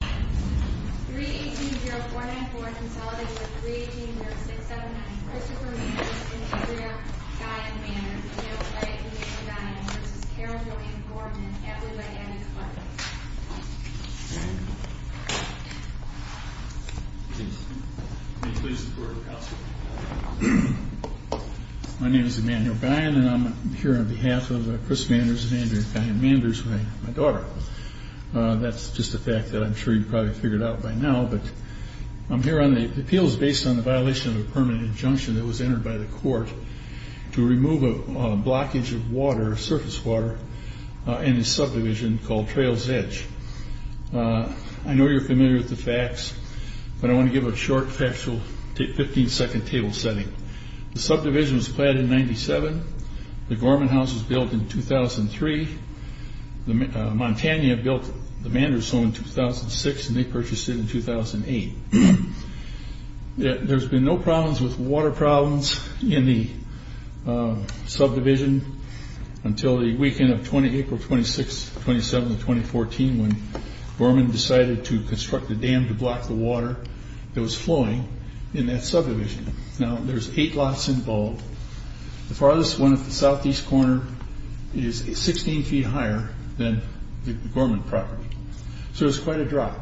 318-049-4 consolidates with 318-067-9 Christopher Manders and Andrea Guyon-Manders v. Carole Gorman v. Gorman, family by daddy's blood. My name is Emmanuel Guyon and I'm here on behalf of Chris Manders and Andrea Guyon-Manders, my daughter. That's just a fact that I'm sure you've probably figured out by now. The appeal is based on the violation of a permanent injunction that was entered by the court to remove a blockage of surface water in a subdivision called Trails Edge. I know you're familiar with the facts, but I want to give a short, factual 15-second table setting. The subdivision was planned in 1997, the Gorman house was built in 2003, Montana built the Manders home in 2006 and they purchased it in 2008. There's been no problems with water problems in the subdivision until the weekend of April 26th, 27th, and 2014 when Gorman decided to construct a dam to block the water that was flowing in that subdivision. Now there's eight lots involved, the farthest one at the southeast corner is 16 feet higher than the Gorman property, so it's quite a drop.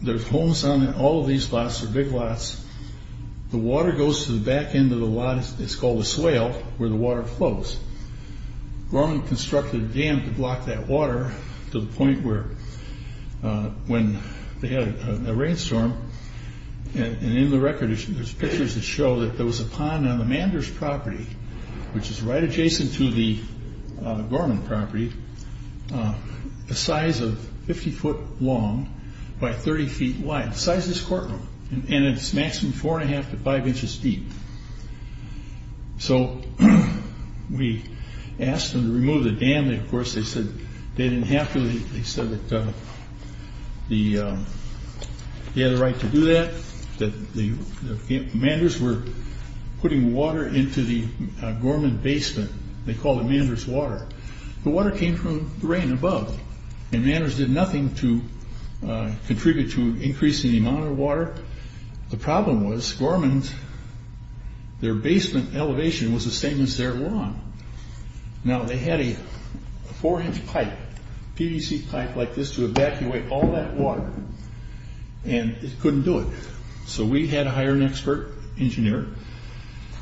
There's homes on all of these lots, they're big lots, the water goes to the back end of the lot, it's called a swale, where the water flows. Gorman constructed a dam to block that water to the point where when they had a rainstorm, and in the record there's pictures that show that there was a pond on the Manders property, which is right adjacent to the Gorman property, the size of 50 foot long by 30 feet wide, the size of this courtroom, and it's maximum 4 1⁄2 to 5 inches deep. So we asked them to remove the dam, and of course they said they didn't have to, they said that they had a right to do that, that the Manders were putting water into the Gorman basement, they called it Manders water. The water came from the rain above, and Manders did nothing to contribute to increasing the amount of water. The problem was, Gorman's, their basement elevation was the same as their lawn. Now they had a 4 inch pipe, PVC pipe like this to evacuate all that water, and it couldn't do it. So we had to hire an expert engineer,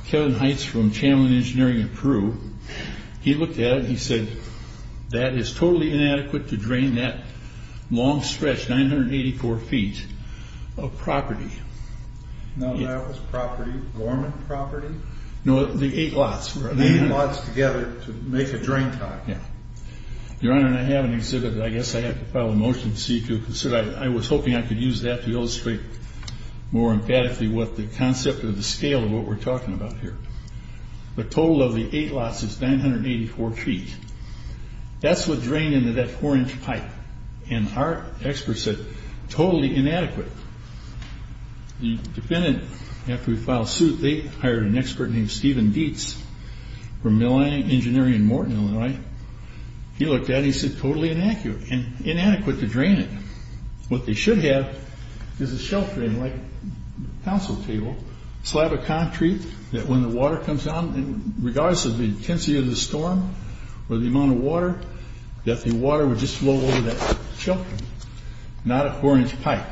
Kevin Heights from Chamlin Engineering in Peru, he looked at it and he said, that is totally inadequate to drain that long stretch, 984 feet of property. Now that was property, Gorman property? No, the eight lots. The eight lots together to make a drain pipe. Your Honor, I have an exhibit that I guess I have to file a motion to see if you'll consider, I was hoping I could use that to illustrate more emphatically what the concept or the scale of what we're talking about here. The total of the eight lots is 984 feet. That's what drained into that 4 inch pipe, and our expert said, totally inadequate. The defendant, after we filed suit, they hired an expert named Steven Dietz from Milline Engineering in Morton, Illinois. He looked at it and he said, totally inadequate, and inadequate to drain it. What they should have is a sheltering like council table, slab of concrete, that when the water comes on, regardless of the intensity of the storm or the amount of water, that the water would just flow over that sheltering, not a 4 inch pipe.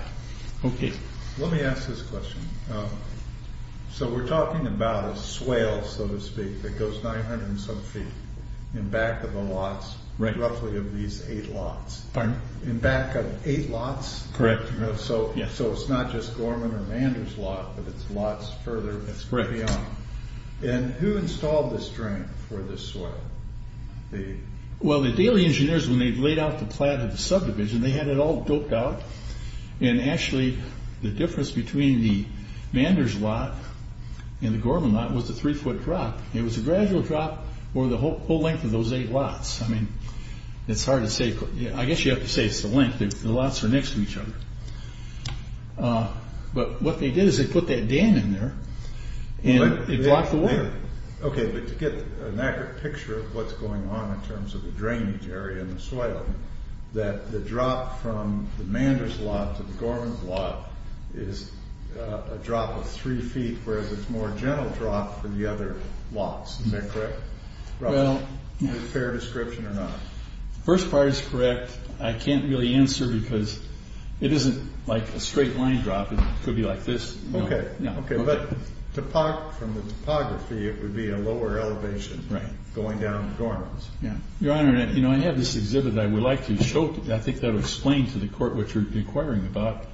Let me ask this question. So we're talking about a swale, so to speak, that goes 900 and some feet in back of the lots, roughly of these eight lots. Pardon? In back of eight lots. Correct. So it's not just Gorman or Mander's lot, but it's lots further beyond. Correct. And who installed this drain for this soil? Well, the Daly engineers, when they laid out the plan of the subdivision, they had it all doped out, and actually the difference between the Mander's lot and the Gorman lot was the 3 foot drop. It was a gradual drop over the whole length of those eight lots. I mean, it's hard to say. I guess you have to say it's the length. The lots are next to each other. But what they did is they put that dam in there, and it blocked the water. Okay, but to get an accurate picture of what's going on in terms of the drainage area and the swale, that the drop from the Mander's lot to the Gorman's lot is a drop of 3 feet, whereas it's a more gentle drop for the other lots. Is that correct? Is it a fair description or not? The first part is correct. I can't really answer because it isn't like a straight line drop. It could be like this. Okay. But from the topography, it would be a lower elevation going down to Gorman's. Your Honor, I have this exhibit I would like to show. I think that would explain to the Court what you're inquiring about.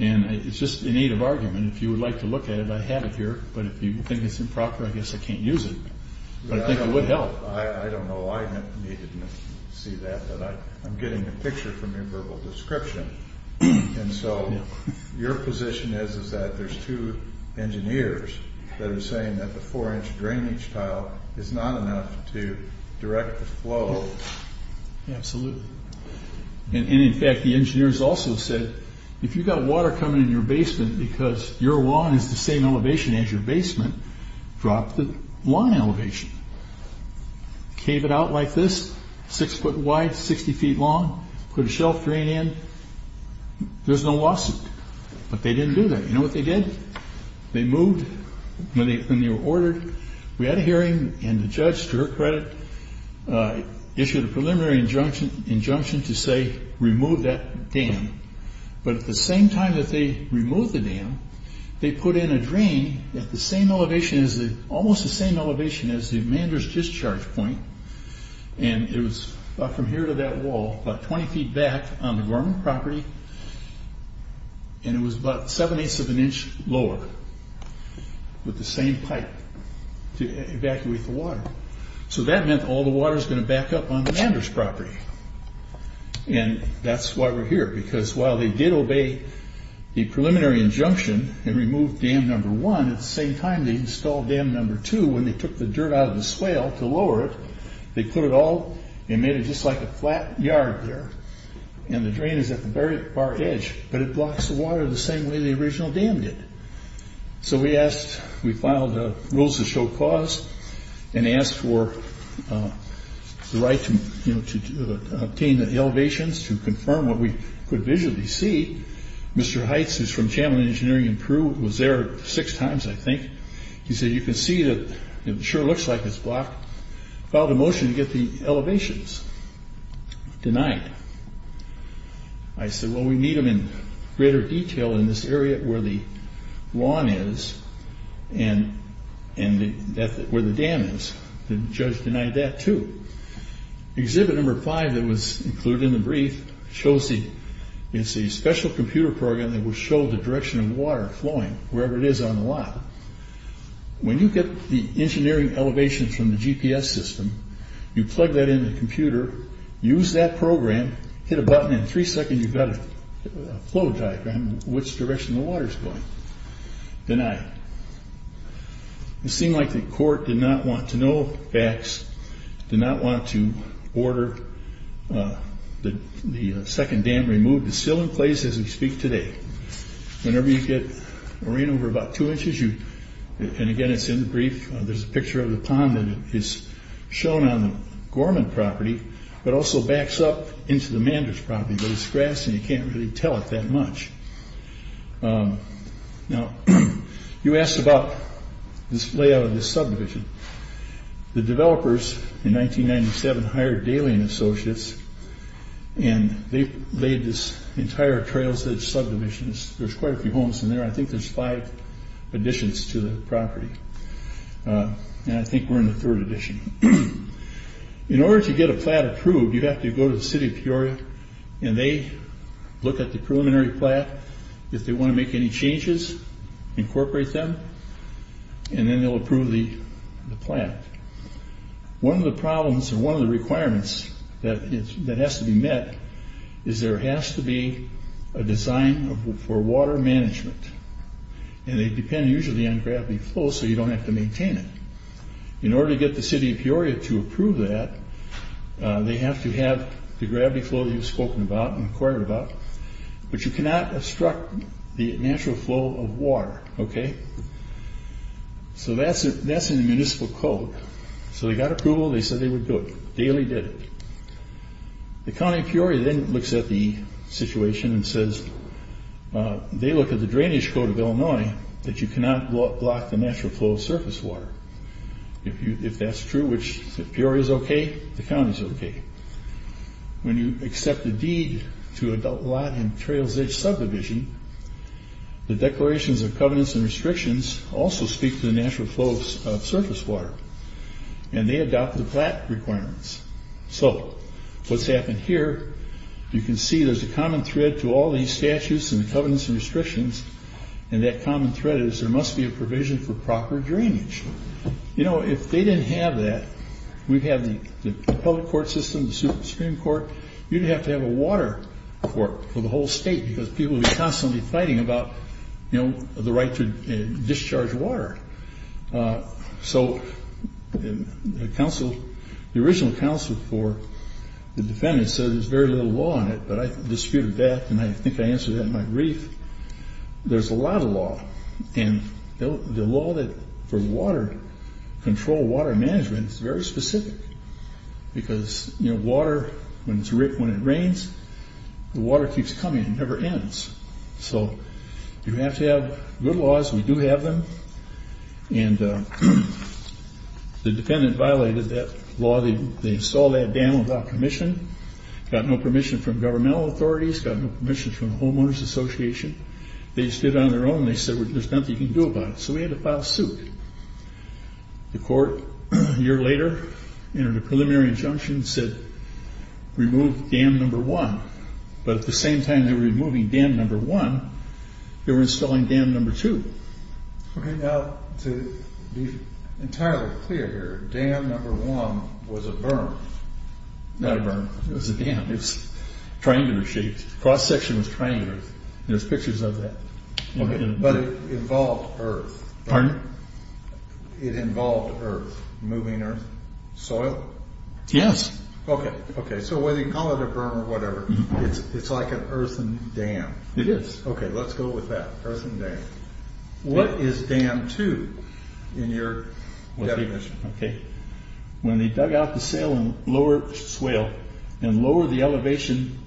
And it's just an aid of argument. If you would like to look at it, I have it here. But if you think it's improper, I guess I can't use it. But I think it would help. I don't know. I need to see that. But I'm getting a picture from your verbal description. And so your position is that there's two engineers that are saying that the 4-inch drainage tile is not enough to direct the flow. Absolutely. And, in fact, the engineers also said, if you've got water coming in your basement because your lawn is the same elevation as your basement, drop the lawn elevation. Cave it out like this, 6 foot wide, 60 feet long, put a shelf drain in. There's no lawsuit. But they didn't do that. You know what they did? They moved when they were ordered. We had a hearing, and the judge, to her credit, issued a preliminary injunction to say, remove that dam. But at the same time that they removed the dam, they put in a drain at the same elevation, almost the same elevation, as the Mander's discharge point. And it was from here to that wall, about 20 feet back on the Gorman property. And it was about 7 eighths of an inch lower with the same pipe to evacuate the water. So that meant all the water is going to back up on the Mander's property. And that's why we're here. Because while they did obey the preliminary injunction and remove dam number one, at the same time they installed dam number two, when they took the dirt out of the swale to lower it, they put it all and made it just like a flat yard there. And the drain is at the very far edge. But it blocks the water the same way the original dam did. So we asked, we filed rules to show cause and asked for the right to obtain the elevations to confirm what we could visually see. Mr. Heights, who's from Channel Engineering in Peru, was there six times, I think. He said, you can see that it sure looks like it's blocked. Filed a motion to get the elevations denied. I said, well, we need them in greater detail in this area where the lawn is and where the dam is. The judge denied that, too. Exhibit number five that was included in the brief shows the, it's a special computer program that will show the direction of water flowing, wherever it is on the lot. When you get the engineering elevations from the GPS system, you plug that into the computer, use that program, hit a button, and in three seconds you've got a flow diagram of which direction the water's going. Denied. It seemed like the court did not want to know facts, did not want to order the second dam removed. It's still in place as we speak today. Whenever you get a rain over about two inches, and again, it's in the brief, there's a picture of the pond that is shown on the Gorman property, but also backs up into the Manders property, but it's grass and you can't really tell it that much. Now, you asked about this layout of this subdivision. The developers in 1997 hired Dalian Associates, and they laid this entire trail-edge subdivision. There's quite a few homes in there. I think there's five additions to the property, and I think we're in the third addition. In order to get a plat approved, you have to go to the city of Peoria, and they look at the preliminary plat. If they want to make any changes, incorporate them, and then they'll approve the plat. One of the problems and one of the requirements that has to be met is there has to be a design for water management, and they depend usually on gravity flow so you don't have to maintain it. In order to get the city of Peoria to approve that, they have to have the gravity flow that you've spoken about and inquired about, but you cannot obstruct the natural flow of water, okay? So that's in the municipal code. So they got approval. They said they would do it. Daly did it. The county of Peoria then looks at the situation and says, they look at the drainage code of Illinois that you cannot block the natural flow of surface water. If that's true, which Peoria is okay, the county is okay. When you accept a deed to adult lot and trails-edge subdivision, the declarations of covenants and restrictions also speak to the natural flow of surface water, and they adopt the plat requirements. So what's happened here, you can see there's a common thread to all these statutes and the covenants and restrictions, and that common thread is there must be a provision for proper drainage. You know, if they didn't have that, we'd have the public court system, the Supreme Court, you'd have to have a water court for the whole state because people would be constantly fighting about the right to discharge water. So the original counsel for the defendants said there's very little law on it, but I disputed that, and I think I answered that in my brief. There's a lot of law, and the law for water control, water management, is very specific because water, when it rains, the water keeps coming. It never ends. So you have to have good laws. We do have them, and the defendant violated that law. They installed that dam without permission, got no permission from governmental authorities, got no permission from the Homeowners Association. They just did it on their own. They said there's nothing you can do about it, so we had to file suit. The court, a year later, entered a preliminary injunction that said remove dam number one, but at the same time they were removing dam number one, they were installing dam number two. Okay, now, to be entirely clear here, dam number one was a berm, not a berm. It was a dam. It was triangular shaped. The cross section was triangular. There's pictures of that. Okay, but it involved earth. Pardon? It involved earth, moving earth, soil? Yes. Okay, okay. So whether you call it a berm or whatever, it's like an earthen dam. It is. Okay, let's go with that, earthen dam. What is dam two in your definition? Okay. When they dug out the saline lower swale and lowered the elevation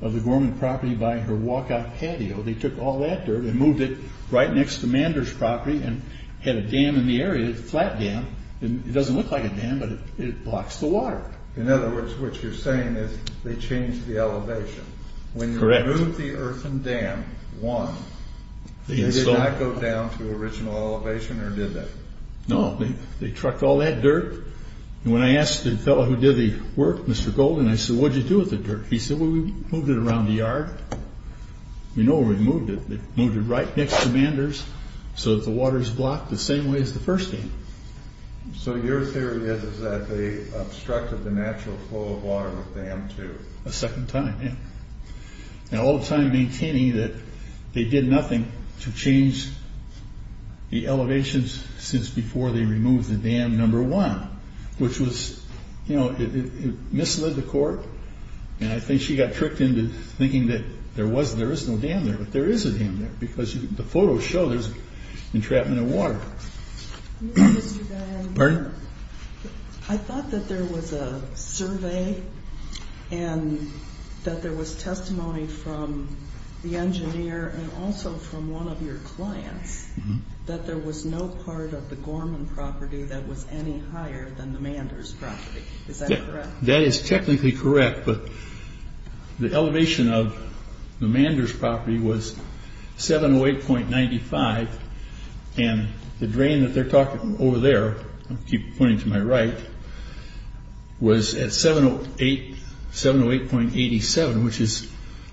of the Gorman property by her walkout patio, they took all that dirt and moved it right next to Mander's property and had a dam in the area, a flat dam. It doesn't look like a dam, but it blocks the water. In other words, what you're saying is they changed the elevation. Correct. They removed the earthen dam once. They did not go down to original elevation or did they? No. They trucked all that dirt. When I asked the fellow who did the work, Mr. Golden, I said, what did you do with the dirt? He said, well, we moved it around the yard. We know where we moved it. They moved it right next to Mander's so that the water is blocked the same way as the first dam. So your theory is that they obstructed the natural flow of water with dam two. A second time, yeah. All the time maintaining that they did nothing to change the elevations since before they removed the dam number one, which was, you know, it misled the court. And I think she got tricked into thinking that there is no dam there, but there is a dam there because the photos show there's entrapment of water. Pardon? I thought that there was a survey and that there was testimony from the engineer and also from one of your clients that there was no part of the Gorman property that was any higher than the Mander's property. Is that correct? That is technically correct, but the elevation of the Mander's property was 708.95, and the drain that they're talking over there, I'll keep pointing to my right, was at 708.87, which is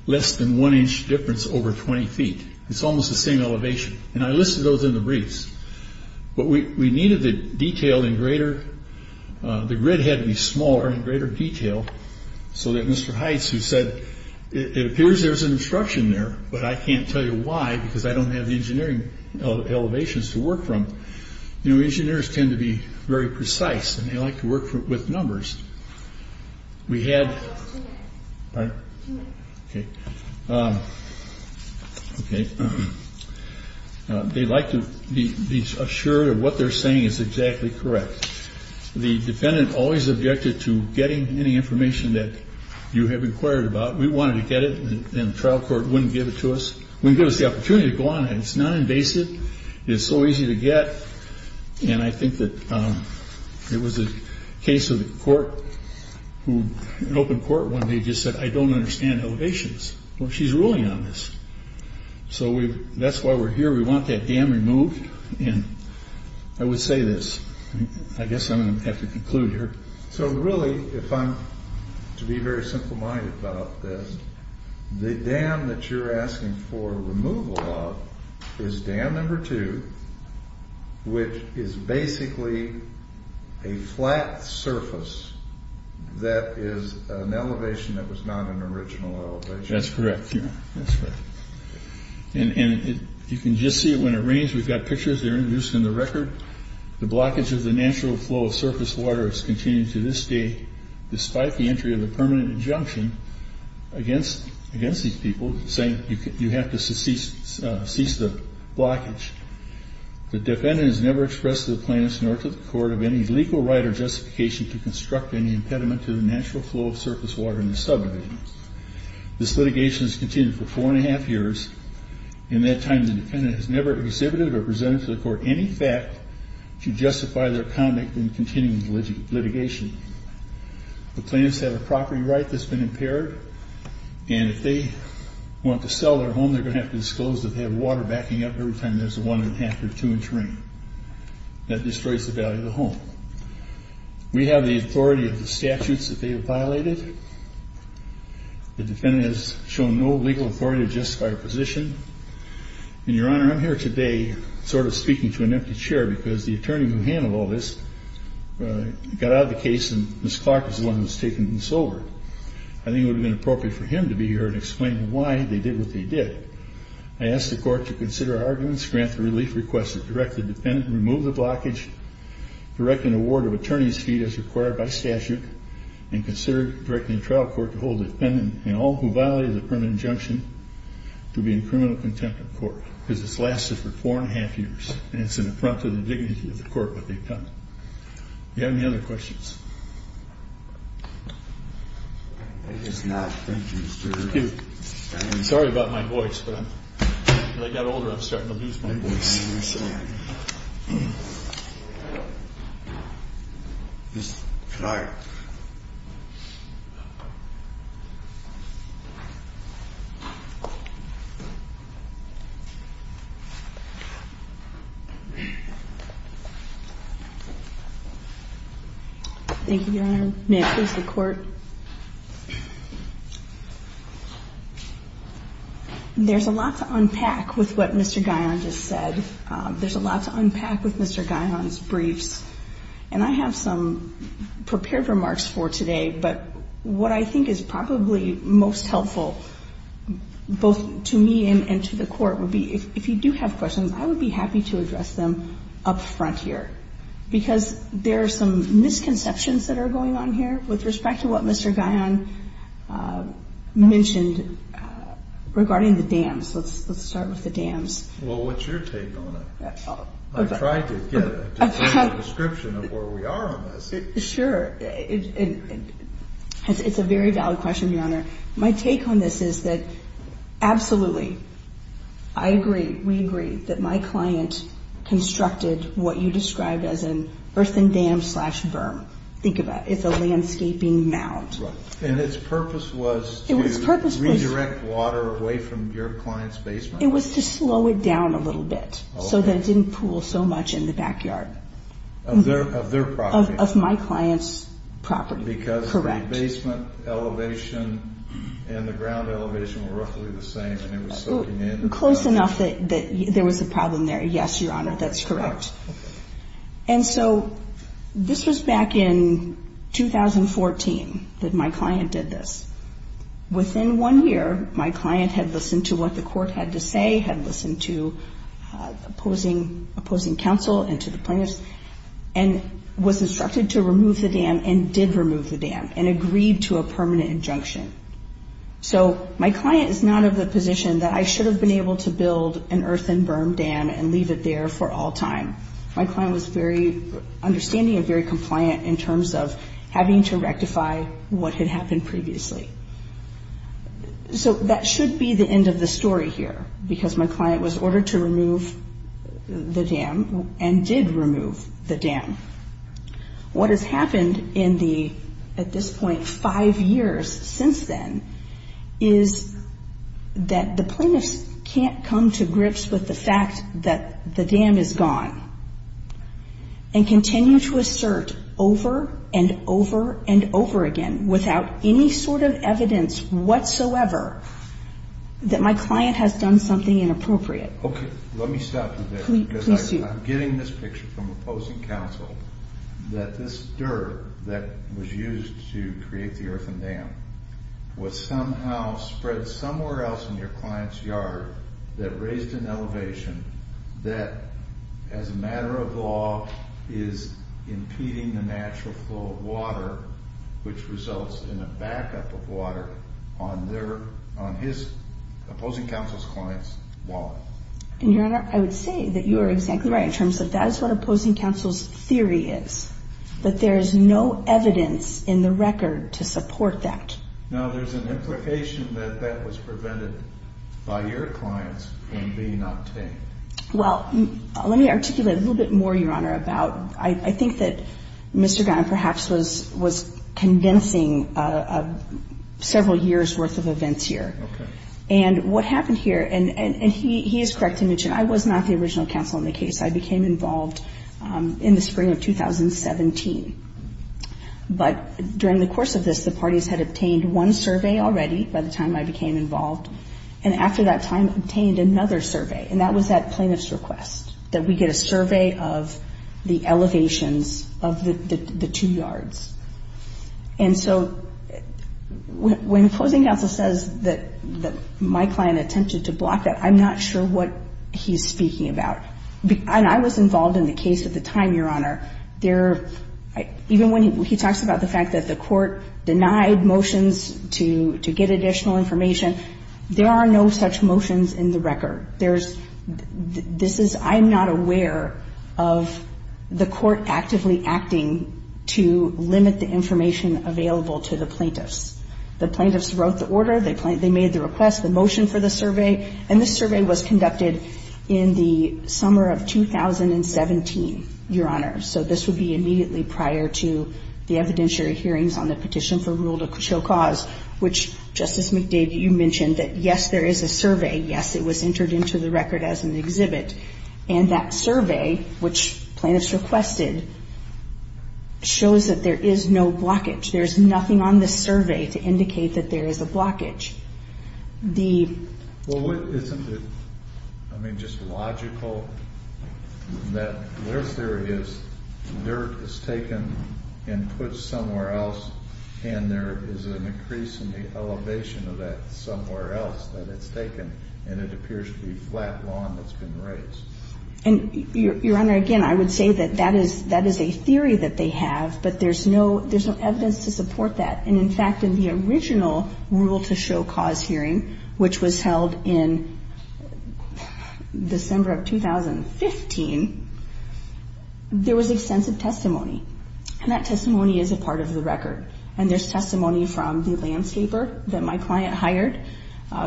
less than one inch difference over 20 feet. It's almost the same elevation, and I listed those in the briefs. But we needed the detail in greater... The grid had to be smaller in greater detail so that Mr. Heights, who said, it appears there's an obstruction there, but I can't tell you why because I don't have the engineering elevations to work from. You know, engineers tend to be very precise and they like to work with numbers. We had... Pardon? Okay. Okay. They like to be assured that what they're saying is exactly correct. The defendant always objected to getting any information that you have inquired about. We wanted to get it, and the trial court wouldn't give it to us, wouldn't give us the opportunity to go on it. It's non-invasive, it's so easy to get, and I think that it was a case of the court, an open court when they just said, I don't understand elevations. Well, she's ruling on this. So that's why we're here. We want that dam removed, and I would say this. I guess I'm going to have to conclude here. So really, if I'm to be very simple-minded about this, the dam that you're asking for removal of is dam number two, which is basically a flat surface that is an elevation that was not an original elevation. That's correct, yeah. That's right. And you can just see it when it rains. We've got pictures that are introduced in the record. The blockage of the natural flow of surface water is continuing to this day, despite the entry of the permanent injunction against these people, saying you have to cease the blockage. The defendant has never expressed to the plaintiffs nor to the court of any legal right or justification to construct any impediment to the natural flow of surface water in the subdivision. This litigation has continued for four and a half years. In that time, the defendant has never exhibited or presented to the court any fact to justify their conduct in continuing the litigation. The plaintiffs have a property right that's been impaired, and if they want to sell their home, they're going to have to disclose that they have water backing up every time there's a one-and-a-half or two-inch rain. That destroys the value of the home. We have the authority of the statutes that they have violated. The defendant has shown no legal authority to justify her position. And, Your Honor, I'm here today sort of speaking to an empty chair because the attorney who handled all this got out of the case, and Ms. Clark was the one who was taking this over. I think it would have been appropriate for him to be here and explain why they did what they did. I ask the court to consider our arguments, grant the relief request to direct the defendant, remove the blockage, direct an award of attorney's fee as required by statute, and consider directing the trial court to hold the defendant and all who violated the permanent injunction to be in criminal contempt of court because this lasted for four and a half years, and it's an affront to the dignity of the court what they've done. Do you have any other questions? I guess not. Thank you, sir. Excuse me. Sorry about my voice, but as I got older, I'm starting to lose my voice. Yes, sir. Ms. Clark. Thank you, Your Honor. May it please the court. There's a lot to unpack with what Mr. Guion just said. There's a lot to unpack with Mr. Guion's briefs, and I have some prepared remarks for today, but what I think is probably most helpful, both to me and to the court, would be if you do have questions, I would be happy to address them up front here because there are some misconceptions that are going on here with respect to what Mr. Guion mentioned regarding the dams. Let's start with the dams. Well, what's your take on it? I tried to get a detailed description of where we are on this. Sure. It's a very valid question, Your Honor. My take on this is that, absolutely, I agree, we agree, that my client constructed what you described as an earthen dam slash berm. Think about it. It's a landscaping mound. And its purpose was to redirect water away from your client's basement? It was to slow it down a little bit so that it didn't pool so much in the backyard. Of their property? Of my client's property, correct. Because the basement elevation and the ground elevation were roughly the same and it was soaking in. Close enough that there was a problem there. Yes, Your Honor, that's correct. And so this was back in 2014 that my client did this. Within one year, my client had listened to what the court had to say, had listened to opposing counsel and to the plaintiffs, and was instructed to remove the dam and did remove the dam and agreed to a permanent injunction. So my client is not of the position that I should have been able to build an earthen berm dam and leave it there for all time. My client was understanding and very compliant in terms of having to rectify what had happened previously. So that should be the end of the story here because my client was ordered to remove the dam and did remove the dam. What has happened in the, at this point, five years since then is that the plaintiffs can't come to grips with the fact that the dam is gone and continue to assert over and over and over again without any sort of evidence whatsoever that my client has done something inappropriate. Okay, let me stop you there. Please do. I'm getting this picture from opposing counsel that this dirt that was used to create the earthen dam was somehow spread somewhere else in your client's yard that raised an elevation that, as a matter of law, is impeding the natural flow of water, which results in a backup of water on his opposing counsel's client's wall. And, Your Honor, I would say that you are exactly right in terms of that is what opposing counsel's theory is, that there is no evidence in the record to support that. Now, there's an implication that that was prevented by your clients from being octane. Well, let me articulate a little bit more, Your Honor, about I think that Mr. Graham perhaps was convincing several years' worth of events here. Okay. And what happened here, and he is correct to mention, I was not the original counsel in the case. I became involved in the spring of 2017. But during the course of this, the parties had obtained one survey already by the time I became involved, and after that time obtained another survey, and that was that plaintiff's request, that we get a survey of the elevations of the two yards. And so when opposing counsel says that my client attempted to block that, I'm not sure what he's speaking about. And I was involved in the case at the time, Your Honor. Even when he talks about the fact that the court denied motions to get additional information, there are no such motions in the record. I'm not aware of the court actively acting to limit the information available to the plaintiffs. The plaintiffs wrote the order. They made the request, the motion for the survey, and the survey was conducted in the summer of 2017, Your Honor. So this would be immediately prior to the evidentiary hearings on the petition for rule to show cause, which, Justice McDade, you mentioned that, yes, there is a survey. Yes, it was entered into the record as an exhibit. And that survey, which plaintiffs requested, shows that there is no blockage. There is nothing on the survey to indicate that there is a blockage. Well, isn't it, I mean, just logical that where there is dirt is taken and put somewhere else, and there is an increase in the elevation of that somewhere else that it's taken and it appears to be flat lawn that's been raised. And, Your Honor, again, I would say that that is a theory that they have, but there's no evidence to support that. And, in fact, in the original rule to show cause hearing, which was held in December of 2015, there was extensive testimony. And that testimony is a part of the record. And there's testimony from the landscaper that my client hired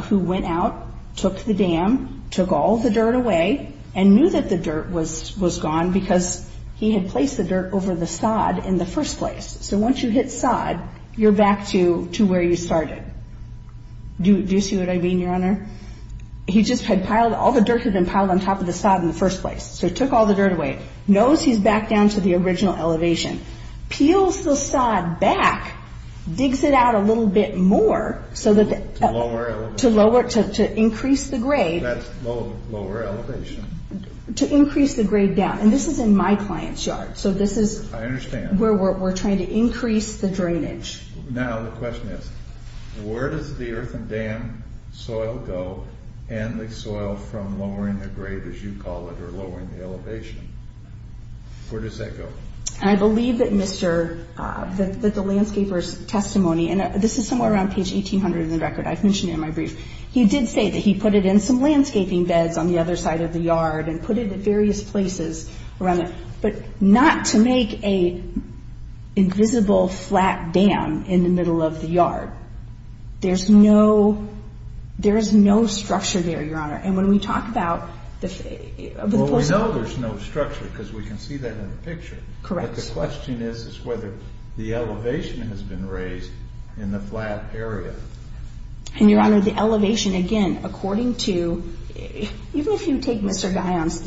who went out, took the dam, took all the dirt away, and knew that the dirt was gone because he had placed the dirt over the sod in the first place. So once you hit sod, you're back to where you started. Do you see what I mean, Your Honor? He just had piled, all the dirt had been piled on top of the sod in the first place. So he took all the dirt away. Knows he's back down to the original elevation. Peels the sod back, digs it out a little bit more to increase the grade. That's lower elevation. To increase the grade down. And this is in my client's yard. So this is where we're trying to increase the drainage. Now the question is, where does the earthen dam soil go and the soil from lowering the grade, as you call it, or lowering the elevation? Where does that go? I believe that the landscaper's testimony, and this is somewhere around page 1800 in the record. I've mentioned it in my brief. He did say that he put it in some landscaping beds on the other side of the yard and put it at various places around it. But not to make an invisible flat dam in the middle of the yard. There's no structure there, Your Honor. And when we talk about the post... Well, we know there's no structure because we can see that in the picture. Correct. But the question is whether the elevation has been raised in the flat area. And, Your Honor, the elevation, again, according to... Even if you take Mr. Guyon's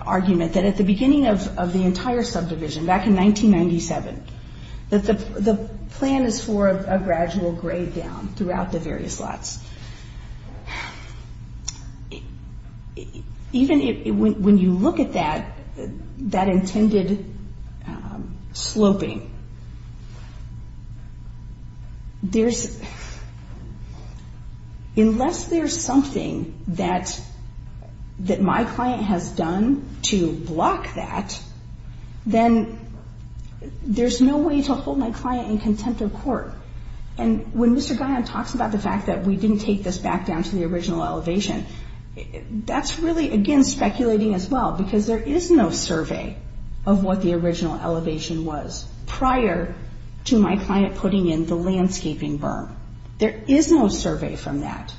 argument that at the beginning of the entire subdivision, back in 1997, that the plan is for a gradual grade down throughout the various lots. Even when you look at that intended sloping, unless there's something that my client has done to block that, then there's no way to hold my client in contempt of court. And when Mr. Guyon talks about the fact that we didn't take this back down to the original elevation, that's really, again, speculating as well, because there is no survey of what the original elevation was prior to my client putting in the landscaping berm. There is no survey from that.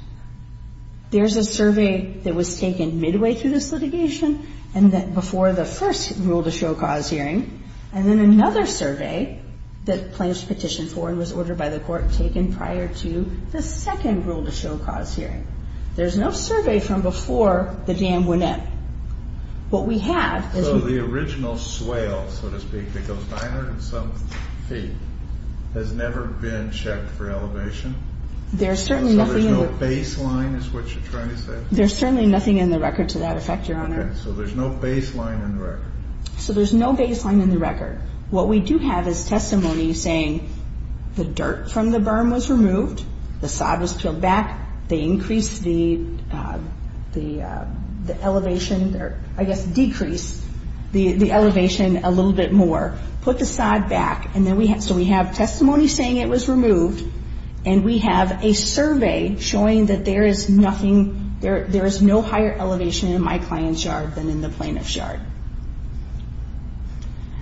There's a survey that was taken midway through this litigation and before the first rule-to-show cause hearing, and then another survey that plans to petition for and was ordered by the court taken prior to the second rule-to-show cause hearing. There's no survey from before the dam went in. What we have is... So the original swale, so to speak, that goes 900 and some feet, has never been checked for elevation? There's certainly nothing... So there's no baseline is what you're trying to say? There's certainly nothing in the record to that effect, Your Honor. So there's no baseline in the record? So there's no baseline in the record. What we do have is testimony saying the dirt from the berm was removed, the sod was peeled back, they increased the elevation, or I guess decreased the elevation a little bit more, put the sod back. So we have testimony saying it was removed, and we have a survey showing that there is nothing... There is no higher elevation in my client's yard than in the plaintiff's yard.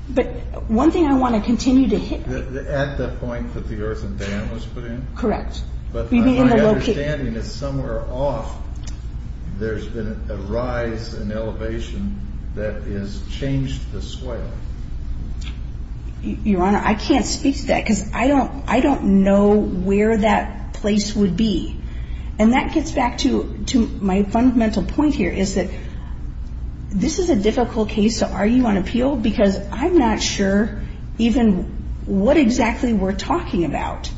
But one thing I want to continue to hit... At the point that the earthen dam was put in? Correct. But my understanding is somewhere off there's been a rise in elevation that has changed the swale. Your Honor, I can't speak to that because I don't know where that place would be. And that gets back to my fundamental point here, is that this is a difficult case to argue on appeal because I'm not sure even what exactly we're talking about.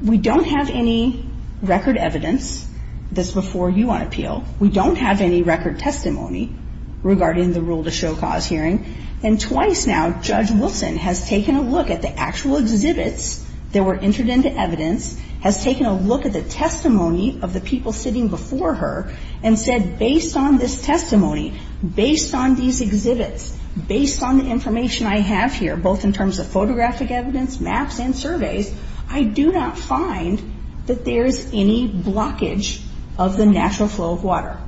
We don't have any record evidence that's before you on appeal. We don't have any record testimony regarding the rule to show cause hearing. And twice now, Judge Wilson has taken a look at the actual exhibits that were entered into evidence, has taken a look at the testimony of the people sitting before her, and said based on this testimony, based on these exhibits, based on the information I have here, both in terms of photographic evidence, maps, and surveys, I do not find that there is any blockage of the natural flow of water.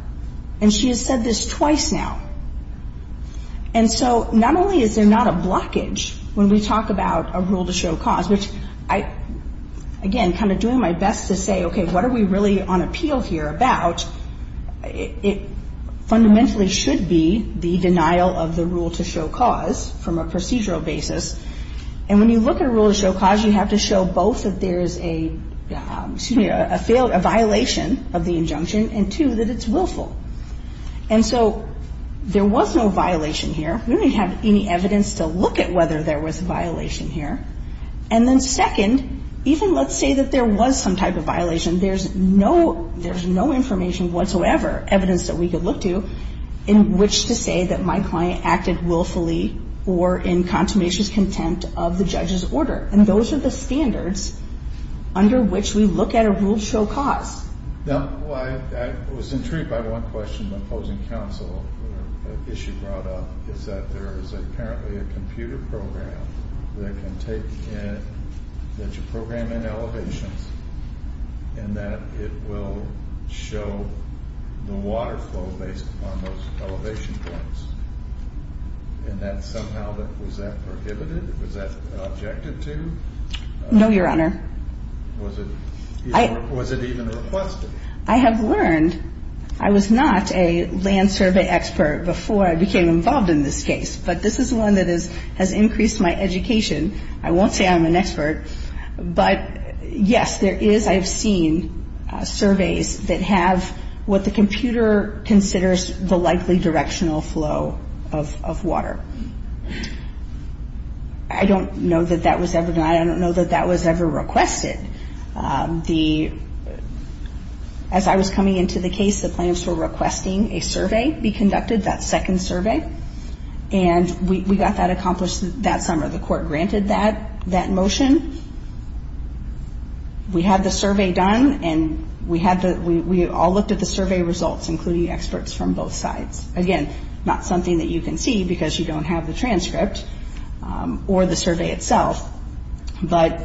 And she has said this twice now. And so not only is there not a blockage when we talk about a rule to show cause, which I, again, kind of doing my best to say, okay, what are we really on appeal here about? It fundamentally should be the denial of the rule to show cause from a procedural basis. And when you look at a rule to show cause, you have to show both that there is a, excuse me, a violation of the injunction and, two, that it's willful. And so there was no violation here. We don't even have any evidence to look at whether there was a violation here. And then second, even let's say that there was some type of violation, there's no information whatsoever, evidence that we could look to, in which to say that my client acted willfully or in consummation's contempt of the judge's order. And those are the standards under which we look at a rule to show cause. I was intrigued by one question the opposing counsel issue brought up, is that there is apparently a computer program that can take in, that you program in elevations, and that it will show the water flow based upon those elevation points. And that somehow, was that prohibited? Was that objected to? No, Your Honor. Was it even requested? I have learned, I was not a land survey expert before I became involved in this case, but this is one that has increased my education. I won't say I'm an expert, but, yes, there is, I have seen surveys that have what the computer considers the likely directional flow of water. I don't know that that was ever done. It was requested. As I was coming into the case, the plaintiffs were requesting a survey be conducted, that second survey. And we got that accomplished that summer. The court granted that motion. We had the survey done, and we all looked at the survey results, including experts from both sides. Again, not something that you can see because you don't have the transcript or the survey itself. But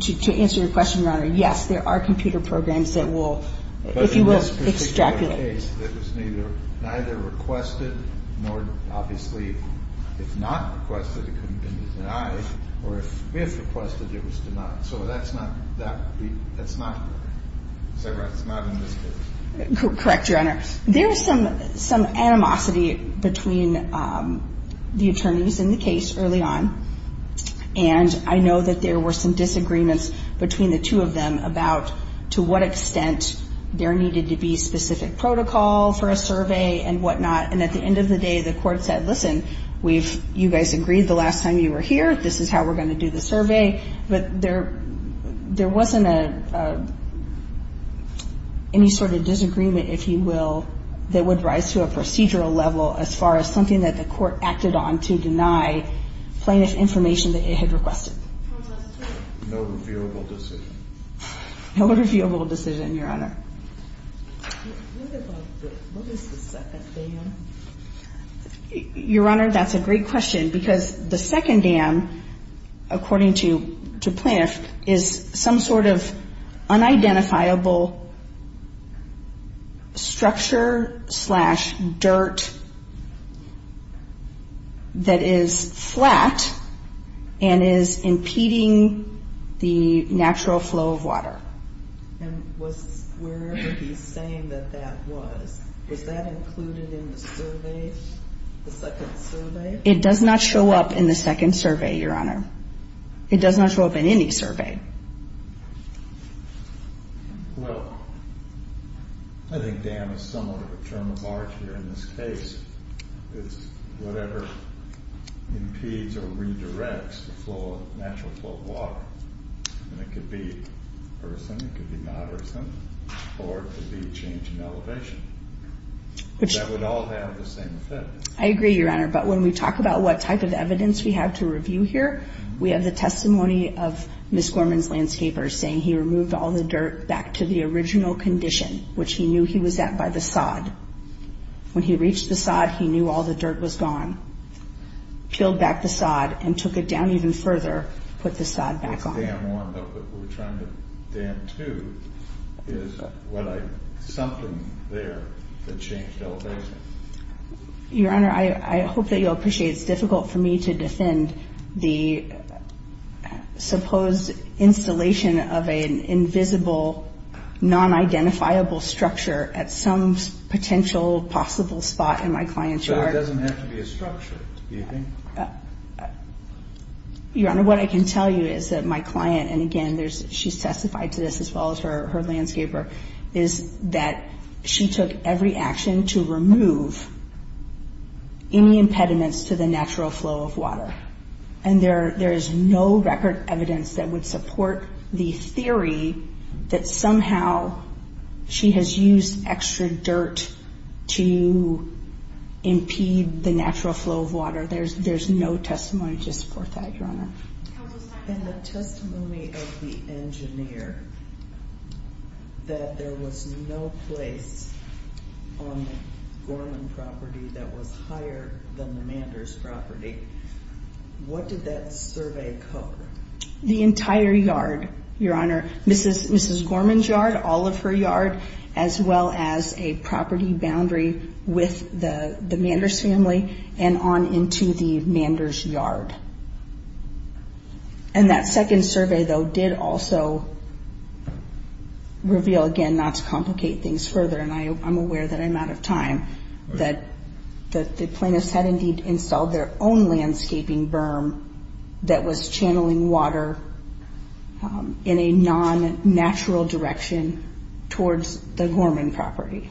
to answer your question, Your Honor, yes, there are computer programs that will, if you will, extrapolate. But in this particular case, it was neither requested nor, obviously, if not requested, it couldn't have been denied, or if requested, it was denied. So that's not, that's not, is that right, it's not in this case? Correct, Your Honor. There's some animosity between the attorneys in the case early on. And I know that there were some disagreements between the two of them about to what extent there needed to be specific protocol for a survey and whatnot. And at the end of the day, the court said, listen, we've, you guys agreed the last time you were here, this is how we're going to do the survey. But there, there wasn't a, any sort of disagreement, if you will, that would rise to a procedural level as far as something that the court acted on to deny plaintiff information that it had requested. No reviewable decision. No reviewable decision, Your Honor. What about the, what is the second dam? Your Honor, that's a great question, because the second dam, according to plaintiff, is some sort of unidentifiable structure slash dirt that is flat and is impeding the natural flow of water. And was, wherever he's saying that that was, was that included in the survey, the second survey? It does not show up in the second survey, Your Honor. It does not show up in any survey. Well, I think dam is somewhat of a term of art here in this case. It's whatever impedes or redirects the natural flow of water. And it could be earthen, it could be not earthen, or it could be a change in elevation. That would all have the same effect. I agree, Your Honor, but when we talk about what type of evidence we have to review here, we have the testimony of Ms. Gorman's landscaper saying he removed all the dirt back to the original condition, which he knew he was at by the sod. When he reached the sod, he knew all the dirt was gone. Peeled back the sod and took it down even further, put the sod back on. The dam one that we're trying to dam two is something there that changed elevation. Your Honor, I hope that you'll appreciate it's difficult for me to defend the supposed installation of an invisible, non-identifiable structure at some potential possible spot in my client's yard. But it doesn't have to be a structure, do you think? Your Honor, what I can tell you is that my client, and again, she's testified to this as well as her landscaper, is that she took every action to remove any impediments to the natural flow of water. And there is no record evidence that would support the theory that somehow she has used extra dirt to impede the natural flow of water. There's no testimony to support that, Your Honor. In the testimony of the engineer, that there was no place on the Gorman property that was higher than the Manders property, what did that survey cover? The entire yard, Your Honor. Mrs. Gorman's yard, all of her yard, as well as a property boundary with the Manders family and on into the Manders yard. And that second survey, though, did also reveal, again, not to complicate things further, and I'm aware that I'm out of time, that the plaintiffs had indeed installed their own landscaping berm that was channeling water in a non-natural direction towards the Gorman property.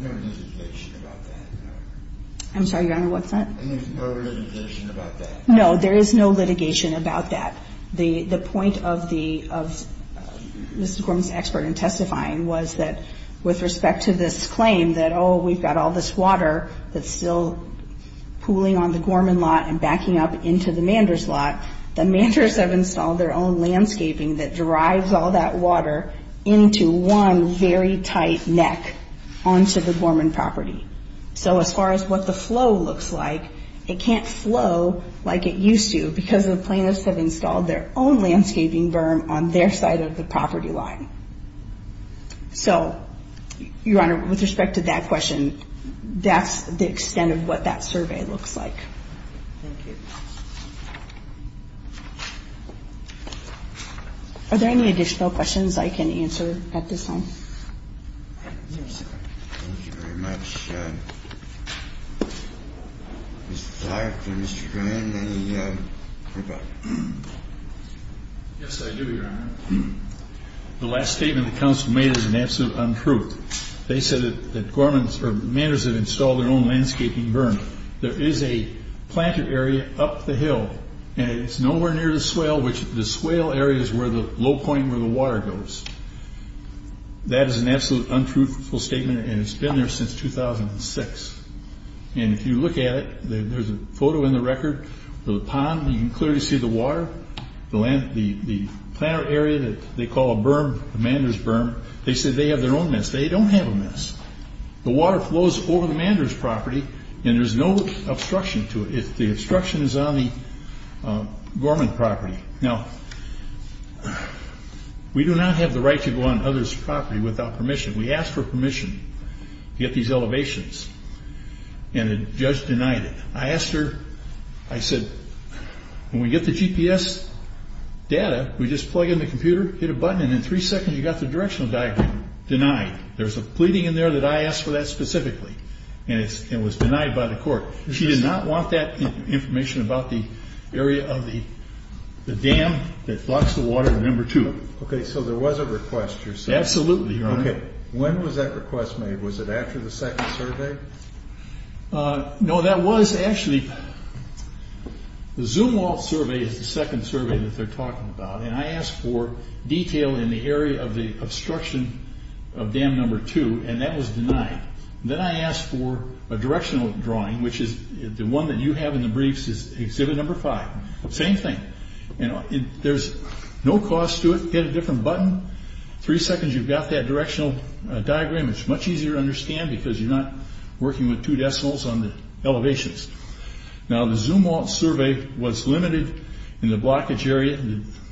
No litigation about that. I'm sorry, Your Honor, what's that? No litigation about that. No, there is no litigation about that. The point of Mrs. Gorman's expert in testifying was that with respect to this claim that, oh, we've got all this water that's still pooling on the Gorman lot and backing up into the Manders lot, the Manders have installed their own landscaping that drives all that water into one very tight neck onto the Gorman property. So as far as what the flow looks like, it can't flow like it used to because the plaintiffs have installed their own landscaping berm on their side of the property line. So, Your Honor, with respect to that question, that's the extent of what that survey looks like. Thank you. Are there any additional questions I can answer at this time? No, sir. Thank you very much. Mr. Tharpe and Mr. Grand, any further? Yes, I do, Your Honor. The last statement the counsel made is an absolute untruth. They said that Gorman's or Manders had installed their own landscaping berm. There is a planted area up the hill, and it's nowhere near the swale, which the swale area is where the low point where the water goes. That is an absolute untruthful statement, and it's been there since 2006. And if you look at it, there's a photo in the record of the pond. You can clearly see the water. The planter area that they call a berm, a Manders berm, they said they have their own mess. They don't have a mess. The water flows over the Manders property, and there's no obstruction to it. The obstruction is on the Gorman property. Now, we do not have the right to go on others' property without permission. We asked for permission to get these elevations, and the judge denied it. I asked her, I said, when we get the GPS data, we just plug in the computer, hit a button, and in three seconds you've got the directional diagram. Denied. There's a pleading in there that I asked for that specifically, and it was denied by the court. She did not want that information about the area of the dam that blocks the water, number two. Okay, so there was a request yourself. Absolutely, Your Honor. Okay, when was that request made? Was it after the second survey? No, that was actually, the Zumwalt survey is the second survey that they're talking about, and I asked for detail in the area of the obstruction of dam number two, and that was denied. Then I asked for a directional drawing, which is the one that you have in the briefs is exhibit number five. Same thing. There's no cost to it. Hit a different button. Three seconds, you've got that directional diagram. It's much easier to understand because you're not working with two decimals on the elevations. Now, the Zumwalt survey was limited in the blockage area.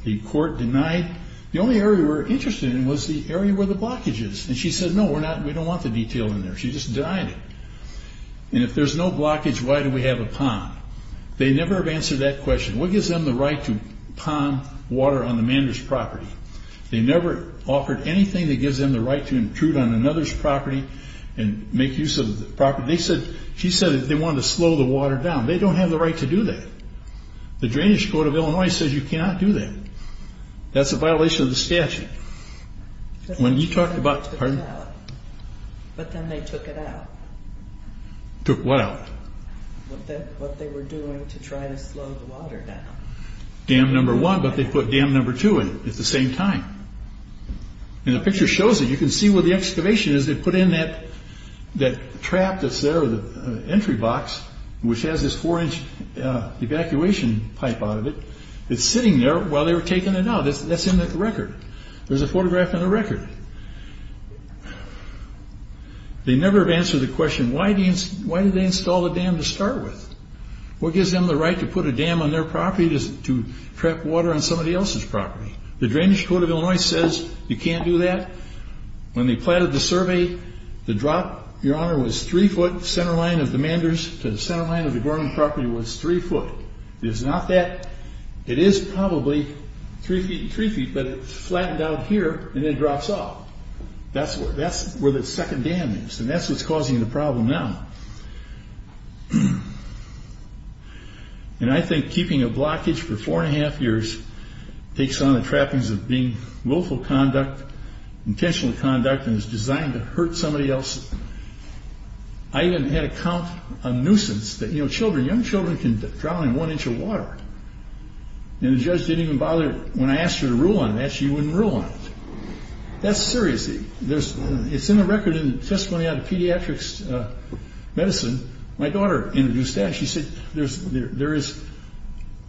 The court denied. The only area we're interested in was the area where the blockage is, and she said, no, we don't want the detail in there. She just denied it, and if there's no blockage, why do we have a pond? They never have answered that question. What gives them the right to pond water on the manager's property? They never offered anything that gives them the right to intrude on another's property and make use of the property. She said they wanted to slow the water down. They don't have the right to do that. The drainage code of Illinois says you cannot do that. That's a violation of the statute. When you talked about, pardon? But then they took it out. Took what out? What they were doing to try to slow the water down. Dam number one, but they put dam number two in at the same time. And the picture shows it. You can see where the excavation is. They put in that trap that's there, the entry box, which has this four-inch evacuation pipe out of it. It's sitting there while they were taking it out. That's in the record. There's a photograph in the record. They never have answered the question, why did they install the dam to start with? What gives them the right to put a dam on their property to trap water on somebody else's property? The drainage code of Illinois says you can't do that. When they plotted the survey, the drop, Your Honor, was three foot. The center line of the Manders to the center line of the Gorman property was three foot. It is not that. It is probably three feet and three feet, but it's flattened out here, and it drops off. That's where the second dam is, and that's what's causing the problem now. And I think keeping a blockage for four and a half years takes on the trappings of being willful conduct, intentional conduct, and is designed to hurt somebody else. I even had to count a nuisance that, you know, children, young children can drown in one inch of water. And the judge didn't even bother. When I asked her to rule on that, she wouldn't rule on it. That's serious. It's in the record in the testimony on pediatrics medicine. My daughter introduced that. She said there is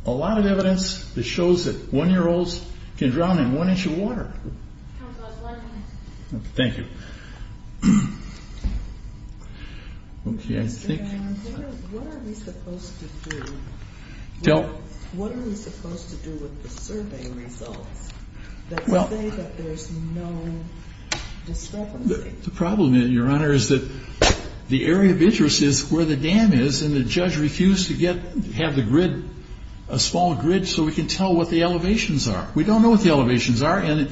a lot of evidence that shows that one-year-olds can drown in one inch of water. Thank you. Okay, I think... What are we supposed to do with the survey results that say that there's no discrepancy? The problem, Your Honor, is that the area of interest is where the dam is, and the judge refused to have a small grid so we can tell what the elevations are. We don't know what the elevations are, and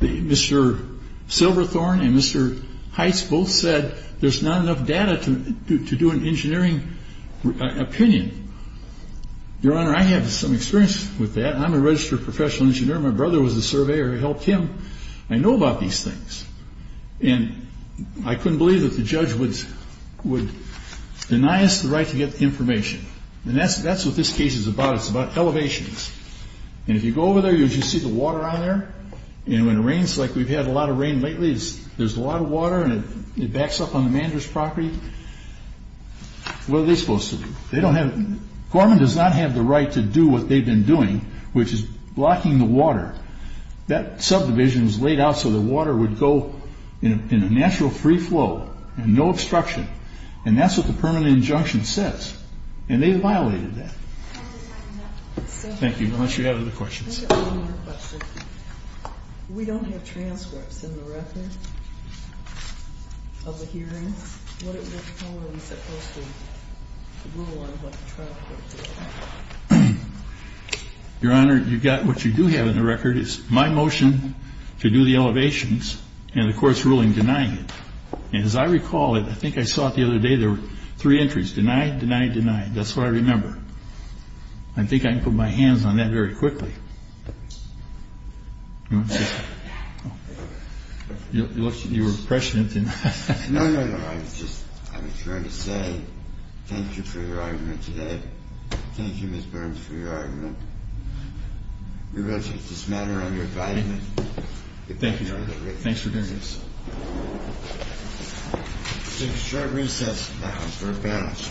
Mr. Silverthorne and Mr. Heitz both said there's not enough data to do an engineering opinion. Your Honor, I have some experience with that. I'm a registered professional engineer. My brother was a surveyor. I helped him. I know about these things. And I couldn't believe that the judge would deny us the right to get the information. And that's what this case is about. It's about elevations. And if you go over there, you'll just see the water on there. And when it rains, like we've had a lot of rain lately, there's a lot of water, and it backs up on the manager's property. What are they supposed to do? They don't have... Gorman does not have the right to do what they've been doing, which is blocking the water. That subdivision is laid out so the water would go in a natural free flow and no obstruction. And that's what the permanent injunction says. And they violated that. Thank you. Unless you have other questions. I have one more question. We don't have transcripts in the record of the hearings. What are we supposed to rule on what the trial court did? Your Honor, what you do have in the record is my motion to do the elevations and the court's ruling denying it. And as I recall it, I think I saw it the other day, there were three entries, denied, denied, denied. That's what I remember. I think I can put my hands on that very quickly. You were prescient in that. No, no, no. I was just trying to say thank you for your argument today. Thank you, Ms. Burns, for your argument. We will take this matter under advisement. Thank you, Your Honor. Thanks for doing this. We'll take a short recess now for advance.